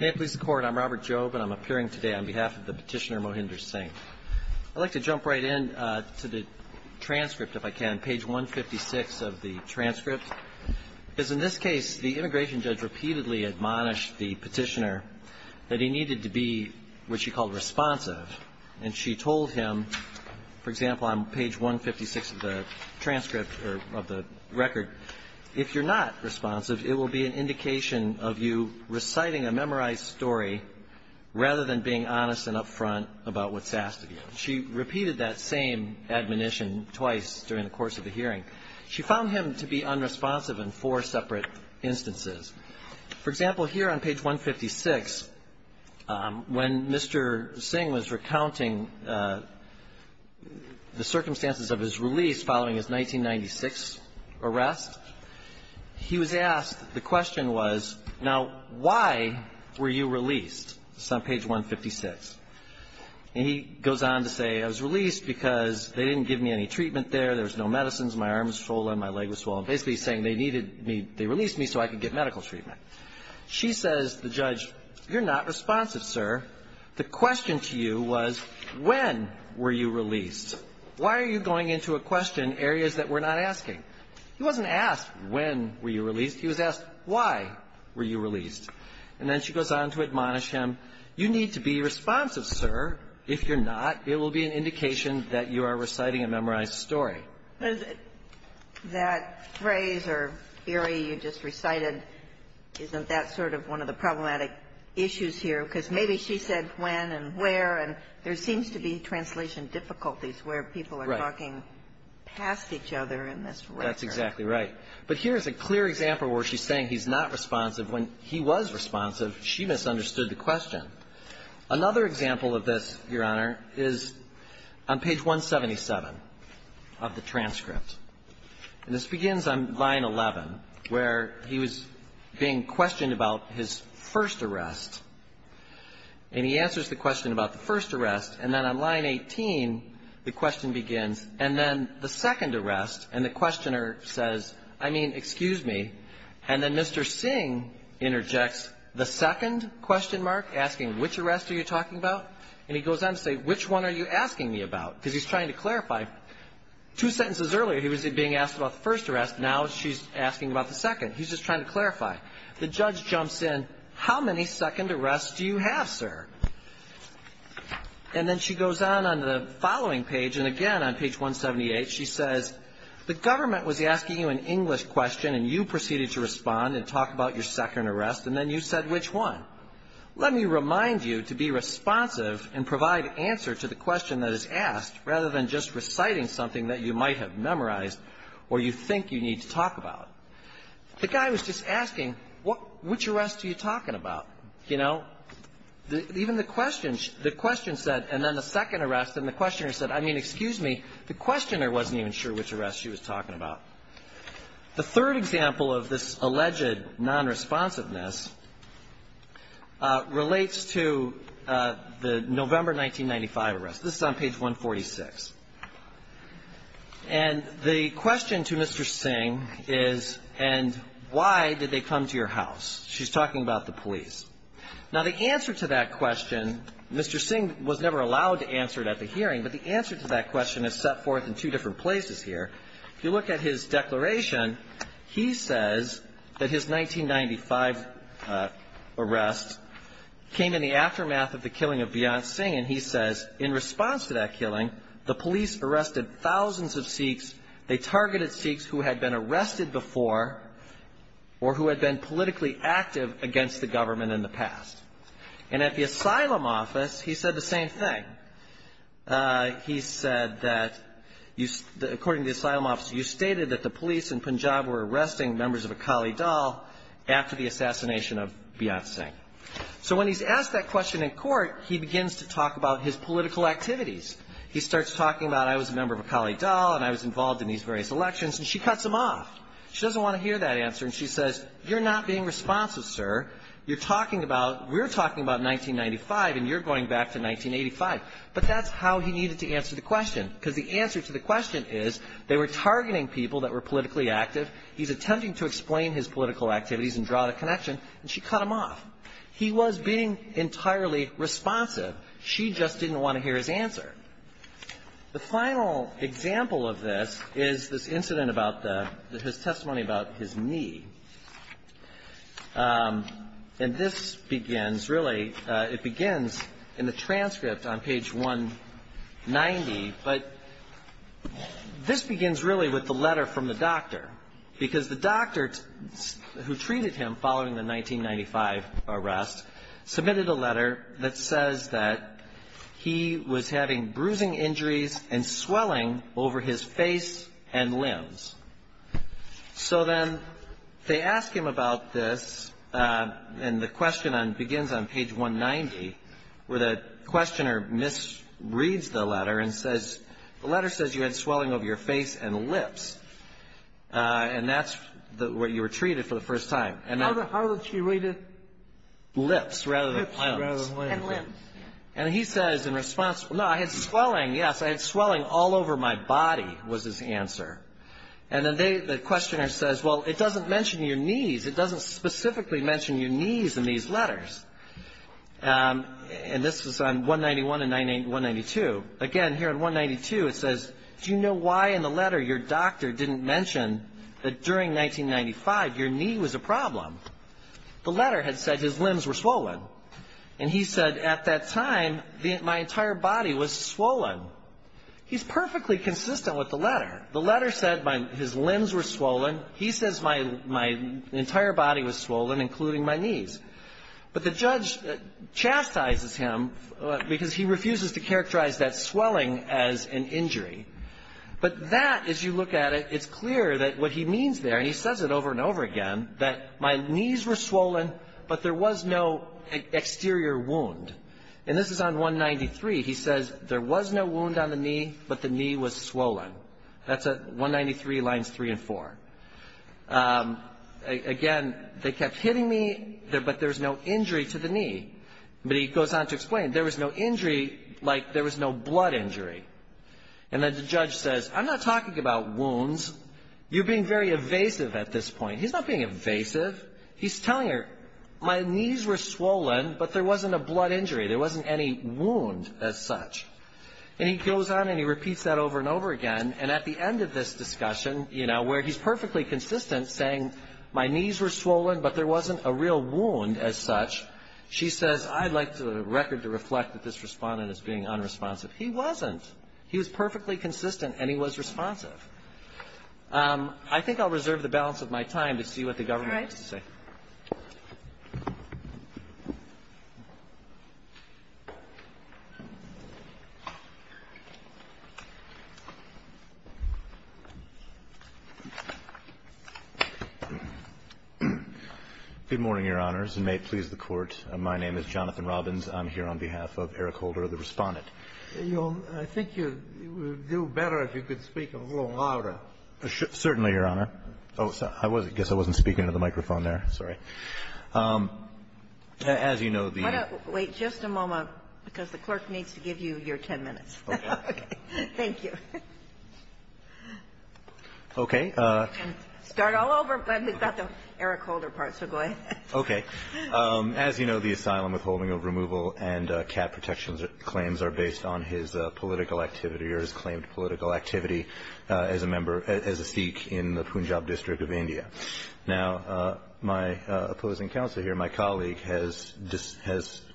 May it please the Court, I'm Robert Jobe, and I'm appearing today on behalf of the petitioner Mohinder Singh. I'd like to jump right in to the transcript, if I can, page 156 of the transcript. Because in this case, the immigration judge repeatedly admonished the petitioner that he needed to be what she called responsive, and she told him, for example, on page 156 of the transcript, or of the record, if you're not responsive, it will be an indication of you reciting a memorized story rather than being honest and upfront about what's asked of you. She repeated that same admonition twice during the course of the hearing. She found him to be unresponsive in four separate instances. For example, here on page 156, when Mr. Singh was recounting the circumstances of his release following his 1996 arrest, he was asked, the question was, now, why were you released? This is on page 156. And he goes on to say, I was released because they didn't give me any treatment there, there was no medicines, my arms swollen, my leg was swollen, basically saying they needed me, they released me so I could get medical treatment. She says to the judge, you're not responsive, sir. The question to you was, when were you released? Why are you going into a question in areas that we're not asking? He wasn't asked, when were you released? He was asked, why were you released? And then she goes on to admonish him, you need to be responsive, sir. If you're not, it will be an indication that you are reciting a memorized story. Ginsburg. That phrase or theory you just recited, isn't that sort of one of the problematic issues here? Because maybe she said when and where, and there seems to be translation difficulties where people are talking past each other in this record. That's exactly right. But here is a clear example where she's saying he's not responsive. When he was responsive, she misunderstood the question. Another example of this, Your Honor, is on page 177 of the transcript. And this begins on line 11, where he was being questioned about his first arrest. And he answers the question about the first arrest. And then on line 18, the question begins, and then the second arrest. And the questioner says, I mean, excuse me. And then Mr. Singh interjects the second question mark, asking which arrest are you talking about. And he goes on to say, which one are you asking me about? Because he's trying to clarify. Two sentences earlier, he was being asked about the first arrest. Now she's asking about the second. He's just trying to clarify. The judge jumps in, how many second arrests do you have, sir? And then she goes on on the following page, and again on page 178, she says, the government was asking you an English question, and you proceeded to respond and talk about your second arrest. And then you said which one. Let me remind you to be responsive and provide answer to the question that is asked rather than just reciting something that you might have memorized or you think you need to talk about. The guy was just asking, which arrest are you talking about? You know? Even the question, the question said, and then the second arrest, and the questioner said, I mean, excuse me. The questioner wasn't even sure which arrest she was talking about. The third example of this alleged nonresponsiveness relates to the November 1995 arrest. This is on page 146. And the question to Mr. Singh is, and why did they come to your house? She's talking about the police. Now, the answer to that question, Mr. Singh was never allowed to answer it at the hearing, but the answer to that question is set forth in two different places here. If you look at his declaration, he says that his 1995 arrest came in the aftermath of the killing of Beyonce Singh, and he says in response to that killing, the police arrested thousands of Sikhs. They targeted Sikhs who had been arrested before or who had been politically active against the government in the past. And at the asylum office, he said the same thing. He said that you, according to the asylum officer, you stated that the police in Punjab were arresting members of Akali Dal after the assassination of Beyonce Singh. So when he's asked that question in court, he begins to talk about his political activities. He starts talking about, I was a member of Akali Dal, and I was involved in these various elections, and she cuts him off. She doesn't want to hear that answer, and she says, you're not being responsive, sir. You're talking about, we're talking about 1995, and you're going back to 1985. But that's how he needed to answer the question, because the answer to the question is, they were targeting people that were politically active. He's attempting to explain his political activities and draw the connection, and she cut him off. He was being entirely responsive. She just didn't want to hear his answer. The final example of this is this incident about the, his testimony about his knee. And this begins, really, it begins in the transcript on page 190, but this begins really with the letter from the doctor, because the doctor who treated him following the 1995 arrest submitted a letter that says that he was having bruising injuries and swelling over his face and limbs. So then they ask him about this, and the question begins on page 190, where the questioner misreads the letter and says, the letter says you had swelling over your face and lips, and that's what you were treated for the first time. And then How did she read it? Lips rather than limbs. Lips rather than limbs. And he says in response, no, I had swelling, yes, I had swelling all over my body, was his answer. And then the questioner says, well, it doesn't mention your knees, it doesn't specifically mention your knees in these letters. And this was on 191 and 192. Again, here on 192 it says, do you know why in the letter your doctor didn't mention that during 1995 your knee was a problem? The letter had said his limbs were swollen. And he said at that time my entire body was swollen. He's perfectly consistent with the letter. The letter said his limbs were swollen. He says my entire body was swollen, including my knees. But the judge chastises him because he refuses to characterize that swelling as an injury. But that, as you look at it, it's clear that what he means there, and he says it over and over again, that my knees were swollen, but there was no exterior wound. And this is on 193. He says there was no wound on the knee, but the knee was swollen. That's 193 lines 3 and 4. Again, they kept hitting me, but there was no injury to the knee. But he goes on to explain, there was no injury like there was no blood injury. And then the judge says, I'm not talking about wounds. You're being very evasive at this point. He's not being evasive. He's telling her, my knees were swollen, but there wasn't a blood injury. There wasn't any wound as such. And he goes on and he repeats that over and over again. And at the end of this discussion, you know, where he's perfectly consistent, saying my knees were swollen, but there wasn't a real wound as such, she says, I'd like the record to reflect that this respondent is being unresponsive. He wasn't. He was perfectly consistent, and he was responsive. I think I'll reserve the balance of my time to see what the government has to say. Good morning, Your Honors, and may it please the Court. My name is Jonathan Robbins. I'm here on behalf of Eric Holder, the respondent. I think you would do better if you could speak a little louder. Certainly, Your Honor. Oh, sorry. I guess I wasn't speaking into the microphone there. Sorry. As you know, the ---- Why don't we wait just a moment, because the clerk needs to give you your 10 minutes. Okay. Thank you. Okay. Start all over, but we've got the Eric Holder part, so go ahead. Okay. As you know, the asylum withholding of removal and cat protections claims are based on his political activity or his claimed political activity as a member, as a Sikh in the Punjab district of India. Now, my opposing counsel here, my colleague, has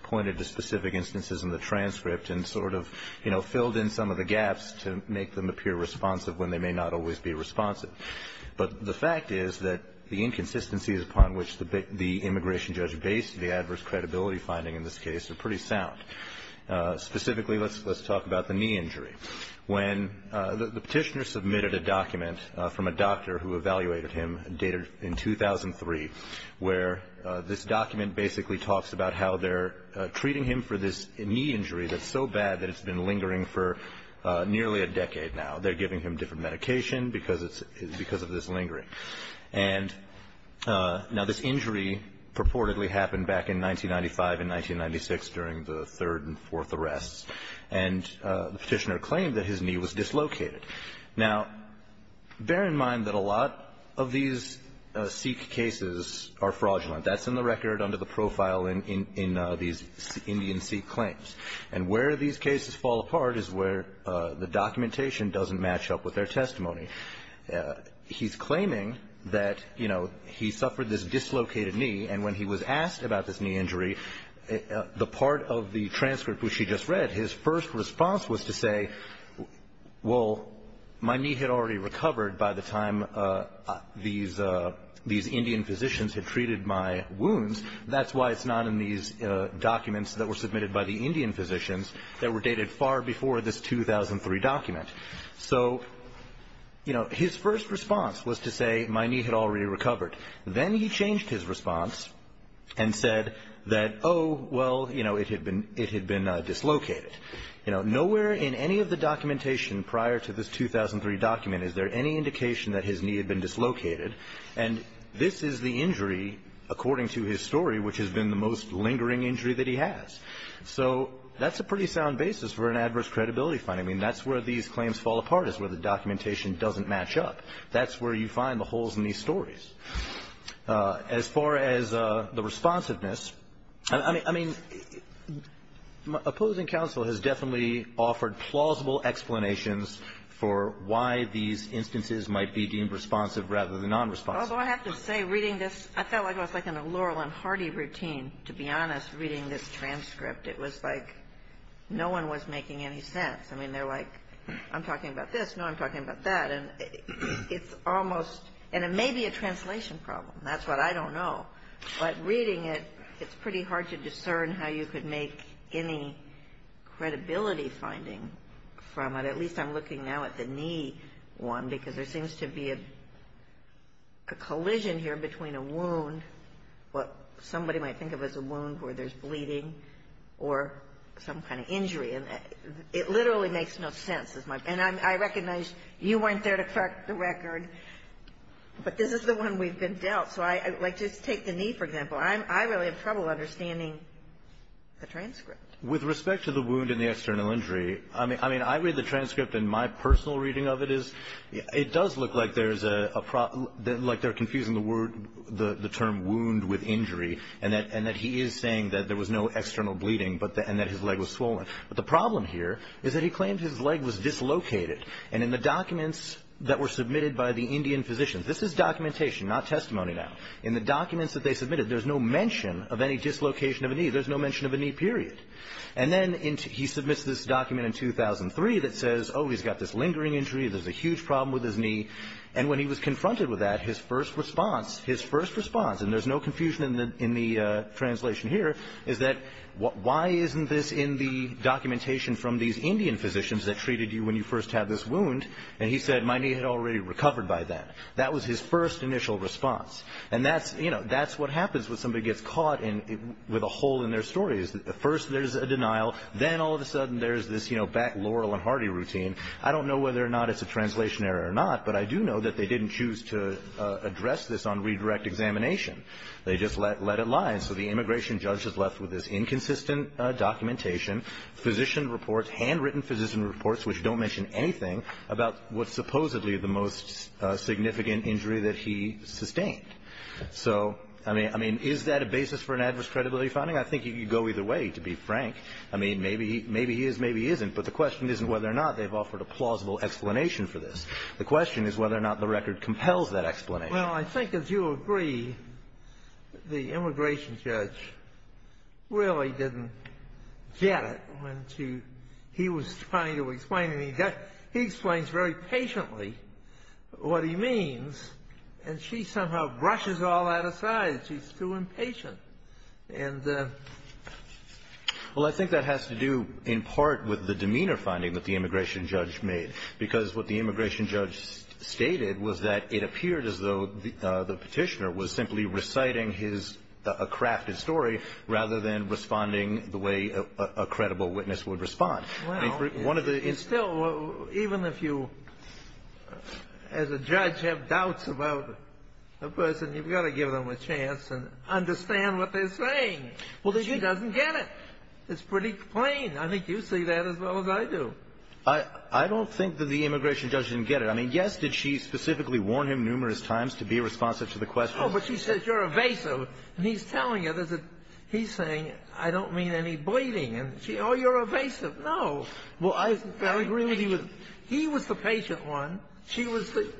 pointed to specific instances in the transcript and sort of, you know, filled in some of the gaps to make them appear responsive when they may not always be responsive. But the fact is that the inconsistencies upon which the immigration judge based the adverse credibility finding in this case are pretty sound. Specifically, let's talk about the knee injury. When the Petitioner submitted a document from a doctor who evaluated him dated in 2003, where this document basically talks about how they're treating him for this knee injury that's so bad that it's been lingering for nearly a decade now. They're giving him different medication because of this lingering. And now, this injury purportedly happened back in 1995 and 1996 during the third and fourth arrests. And the Petitioner claimed that his knee was dislocated. Now, bear in mind that a lot of these Sikh cases are fraudulent. That's in the record under the profile in these Indian Sikh claims. And where these cases fall apart is where the documentation doesn't match up with their testimony. He's claiming that, you know, he suffered this dislocated knee, and when he was asked about this knee injury, the part of the transcript which he just read, his first response was to say, well, my knee had already recovered by the time these Indian physicians had treated my wounds. That's why it's not in these documents that were submitted by the Indian physicians that were dated far before this 2003 document. So, you know, his first response was to say, my knee had already recovered. Then he changed his response and said that, oh, well, you know, it had been dislocated. Nowhere in any of the documentation prior to this 2003 document is there any indication that his knee had been dislocated. And this is the injury, according to his story, which has been the most lingering injury that he has. So that's a pretty sound basis for an adverse credibility finding. I mean, that's where these claims fall apart is where the documentation doesn't match up. That's where you find the holes in these stories. As far as the responsiveness, I mean, opposing counsel has definitely offered plausible explanations for why these instances might be deemed responsive rather than nonresponsive. Although I have to say, reading this, I felt like I was in a Laurel and Hardy routine, to be honest, reading this transcript. It was like no one was making any sense. I mean, they're like, I'm talking about this, no, I'm talking about that. And it may be a translation problem. That's what I don't know. But reading it, it's pretty hard to discern how you could make any credibility finding from it. At least I'm looking now at the knee one because there seems to be a collision here between a wound, what somebody might think of as a wound where there's bleeding, or some kind of injury. And it literally makes no sense. And I recognize you weren't there to crack the record. But this is the one we've been dealt. So just take the knee, for example. I really have trouble understanding the transcript. With respect to the wound and the external injury, I mean, I read the transcript and my personal reading of it is it does look like there's a problem, like they're confusing the word, the term wound with injury, and that he is saying that there was no external bleeding and that his leg was swollen. But the problem here is that he claimed his leg was dislocated. And in the documents that were submitted by the Indian physicians, this is documentation, not testimony now. In the documents that they submitted, there's no mention of any dislocation of a knee. There's no mention of a knee, period. And then he submits this document in 2003 that says, oh, he's got this lingering injury. There's a huge problem with his knee. And when he was confronted with that, his first response, his first response, and there's no confusion in the translation here, is that why isn't this in the documentation from these Indian physicians that treated you when you first had this wound? And he said, my knee had already recovered by then. That was his first initial response. And that's, you know, that's what happens when somebody gets caught with a hole in their story. First there's a denial. Then all of a sudden there's this, you know, back Laurel and Hardy routine. I don't know whether or not it's a translation error or not, but I do know that they didn't choose to address this on redirect examination. They just let it lie. So the immigration judge is left with this inconsistent documentation, physician reports, handwritten physician reports, which don't mention anything about what's supposedly the most significant injury that he sustained. So, I mean, is that a basis for an adverse credibility finding? I think you could go either way, to be frank. I mean, maybe he is, maybe he isn't. But the question isn't whether or not they've offered a plausible explanation for this. The question is whether or not the record compels that explanation. Well, I think, as you agree, the immigration judge really didn't get it when he was trying to explain it. He explains very patiently what he means, and she somehow brushes all that aside. She's too impatient. And the ---- Well, I think that has to do in part with the demeanor finding that the immigration judge made. Because what the immigration judge stated was that it appeared as though the petitioner was simply reciting his ---- a crafted story rather than responding the way a credible witness would respond. Well, it's still, even if you, as a judge, have doubts about a person, you've got to give them a chance and understand what they're saying. She doesn't get it. It's pretty plain. I think you see that as well as I do. I don't think that the immigration judge didn't get it. I mean, yes, did she specifically warn him numerous times to be responsive to the question. Oh, but she said, you're evasive. And he's telling her that he's saying, I don't mean any bleeding. And she, oh, you're evasive. No. Well, I agree with you. He was the patient one. She was the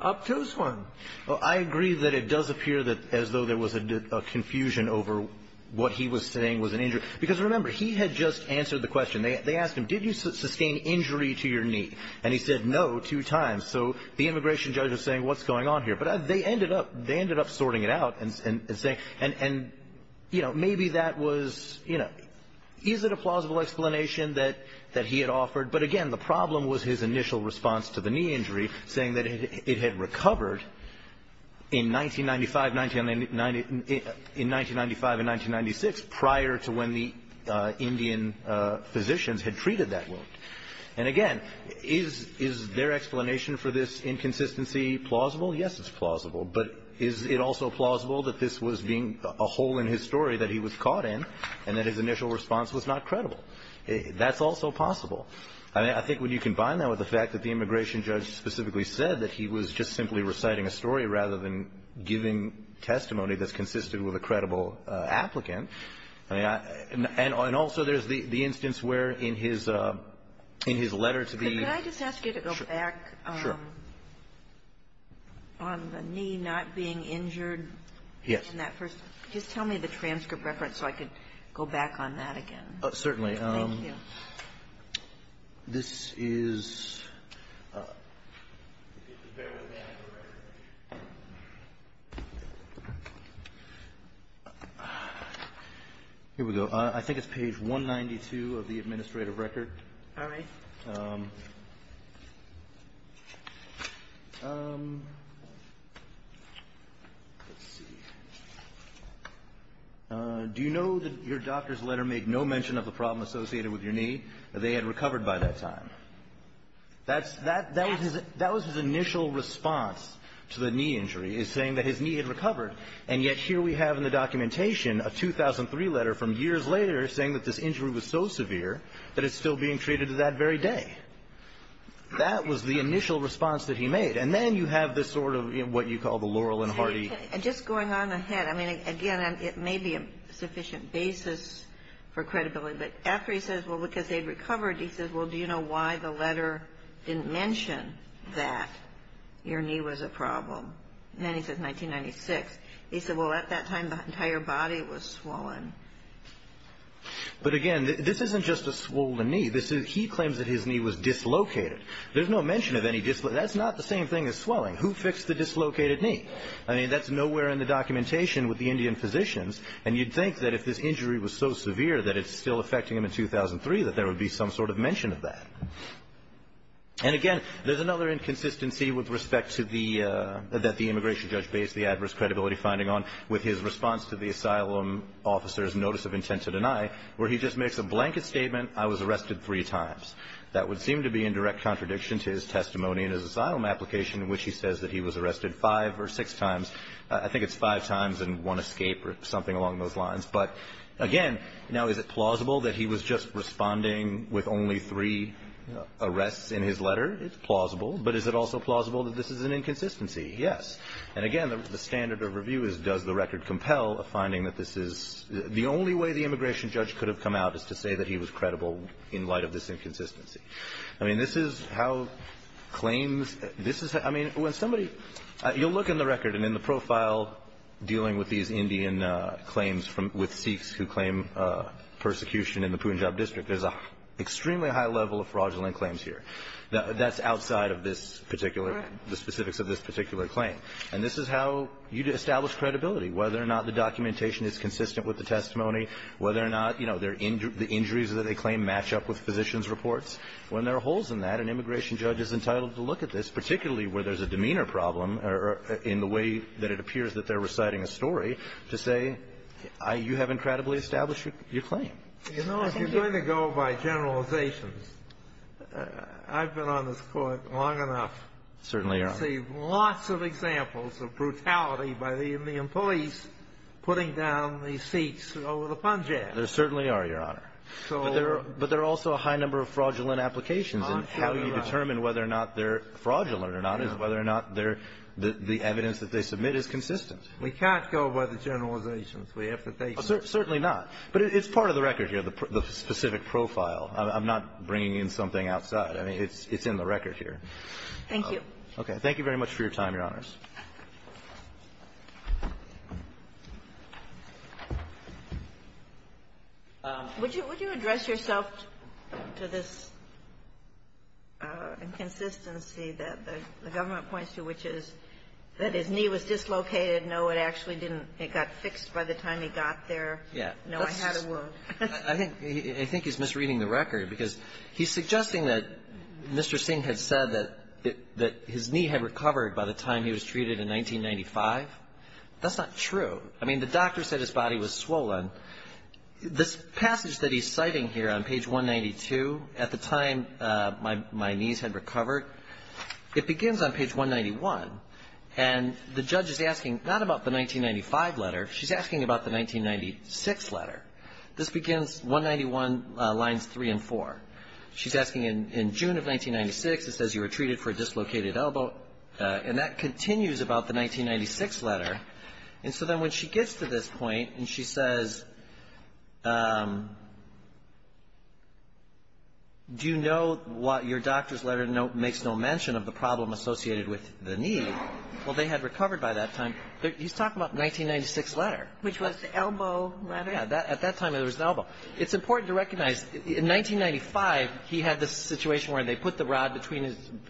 obtuse one. Well, I agree that it does appear that as though there was a confusion over what he was saying was an injury. Because remember, he had just answered the question. They asked him, did you sustain injury to your knee? And he said, no, two times. So the immigration judge was saying, what's going on here? But they ended up sorting it out and saying, and, you know, maybe that was, you know, is it a plausible explanation that he had offered? But, again, the problem was his initial response to the knee injury saying that it had recovered in 1995 and 1996 prior to when the Indian physicians had treated that wound. And, again, is their explanation for this inconsistency plausible? Yes, it's plausible. But is it also plausible that this was being a hole in his story that he was caught in and that his initial response was not credible? That's also possible. I think when you combine that with the fact that the immigration judge specifically said that he was just simply reciting a story rather than giving testimony that's consistent with a credible applicant. And also there's the instance where in his letter to the ---- Could I just ask you to go back on the knee not being injured in that first ---- Yes. Just tell me the transcript reference so I could go back on that again. Certainly. Thank you. This is ---- Here we go. I think it's page 192 of the administrative record. All right. Let's see. Do you know that your doctor's letter made no mention of the problem associated with your knee? They had recovered by that time. That was his initial response to the knee injury is saying that his knee had recovered, and yet here we have in the documentation a 2003 letter from years later saying that this injury was so severe that it's still being treated to that very day. That was the initial response that he made. And then you have this sort of what you call the Laurel and Hardy ---- Just going on ahead. I mean, again, it may be a sufficient basis for credibility. But after he says, well, because they'd recovered, he says, well, do you know why the letter didn't mention that your knee was a problem? And then he says 1996. He said, well, at that time the entire body was swollen. But, again, this isn't just a swollen knee. He claims that his knee was dislocated. There's no mention of any dislocation. That's not the same thing as swelling. Who fixed the dislocated knee? I mean, that's nowhere in the documentation with the Indian physicians. And you'd think that if this injury was so severe that it's still affecting him in 2003, that there would be some sort of mention of that. And, again, there's another inconsistency with respect to the ---- that the immigration judge based the adverse credibility finding on with his response to the asylum officer's notice of intent to deny, where he just makes a blanket statement, I was arrested three times. That would seem to be in direct contradiction to his testimony in his asylum application in which he says that he was arrested five or six times. I think it's five times and one escape or something along those lines. But, again, now is it plausible that he was just responding with only three arrests in his letter? It's plausible. But is it also plausible that this is an inconsistency? Yes. And, again, the standard of review is does the record compel a finding that this is ---- the only way the immigration judge could have come out is to say that he was credible in light of this inconsistency. I mean, this is how claims ---- this is how ---- I mean, when somebody ---- you'll look in the record and in the profile dealing with these Indian claims with Sikhs who claim persecution in the Punjab district. There's an extremely high level of fraudulent claims here. That's outside of this particular ---- Correct. The specifics of this particular claim. And this is how you establish credibility, whether or not the documentation is consistent with the testimony, whether or not, you know, the injuries that they claim match up with physician's reports. When there are holes in that, an immigration judge is entitled to look at this, particularly where there's a demeanor problem or in the way that it appears that they're reciting a story, to say, you have incredibly established your claim. You know, if you're going to go by generalizations, I've been on this Court long enough. Certainly, Your Honor. I've seen lots of examples of brutality by the Indian police putting down the Sikhs over the Punjab. There certainly are, Your Honor. But there are also a high number of fraudulent applications. And how you determine whether or not they're fraudulent or not is whether or not they're the evidence that they submit is consistent. We can't go by the generalizations. We have to take them. Certainly not. But it's part of the record here, the specific profile. I'm not bringing in something outside. I mean, it's in the record here. Thank you. Okay. Thank you very much for your time, Your Honors. Would you address yourself to this inconsistency that the government points to, which is that his knee was dislocated? No, it actually didn't. It got fixed by the time he got there. Yeah. No, I had a wound. I think he's misreading the record, because he's suggesting that Mr. Singh had said that his knee had recovered by the time he was dislocated. So, you're saying that his knee was treated in 1995? That's not true. I mean, the doctor said his body was swollen. This passage that he's citing here on page 192, at the time my knees had recovered, it begins on page 191, and the judge is asking not about the 1995 letter. She's asking about the 1996 letter. This begins 191 lines 3 and 4. She's asking, in June of 1996, it says you were treated for a dislocated elbow, and that continues about the 1996 letter. And so then when she gets to this point and she says, do you know what your doctor's letter makes no mention of the problem associated with the knee? Well, they had recovered by that time. He's talking about the 1996 letter. Which was the elbow letter? Yeah. At that time, it was the elbow. It's important to recognize, in 1995, he had this situation where they put the rod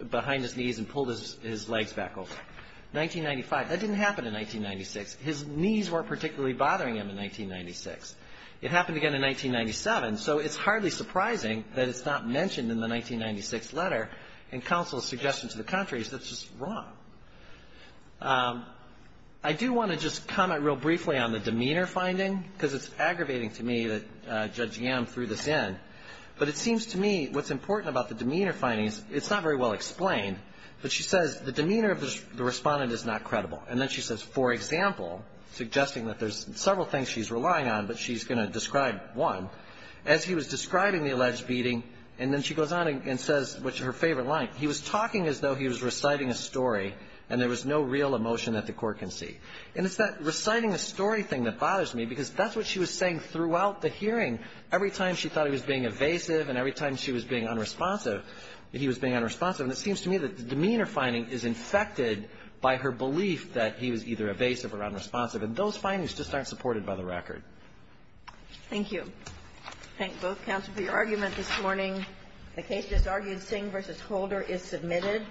behind his knees and pulled his legs back open. 1995. That didn't happen in 1996. His knees weren't particularly bothering him in 1996. It happened again in 1997. So it's hardly surprising that it's not mentioned in the 1996 letter in counsel's suggestion to the country that it's just wrong. I do want to just comment real briefly on the demeanor finding, because it's aggravating to me that Judge Yam threw this in. But it seems to me what's important about the demeanor finding is it's not very well explained, but she says the demeanor of the respondent is not credible. And then she says, for example, suggesting that there's several things she's relying on, but she's going to describe one, as he was describing the alleged beating. And then she goes on and says, which is her favorite line, he was talking as though he was reciting a story and there was no real emotion that the court can see. And it's that reciting a story thing that bothers me, because that's what she was saying throughout the hearing. Every time she thought he was being evasive and every time she was being unresponsive, he was being unresponsive. And it seems to me that the demeanor finding is infected by her belief that he was either evasive or unresponsive. And those findings just aren't supported by the record. Thank you. I thank both counsel for your argument this morning. The case just argued, Singh v. Holder, is submitted.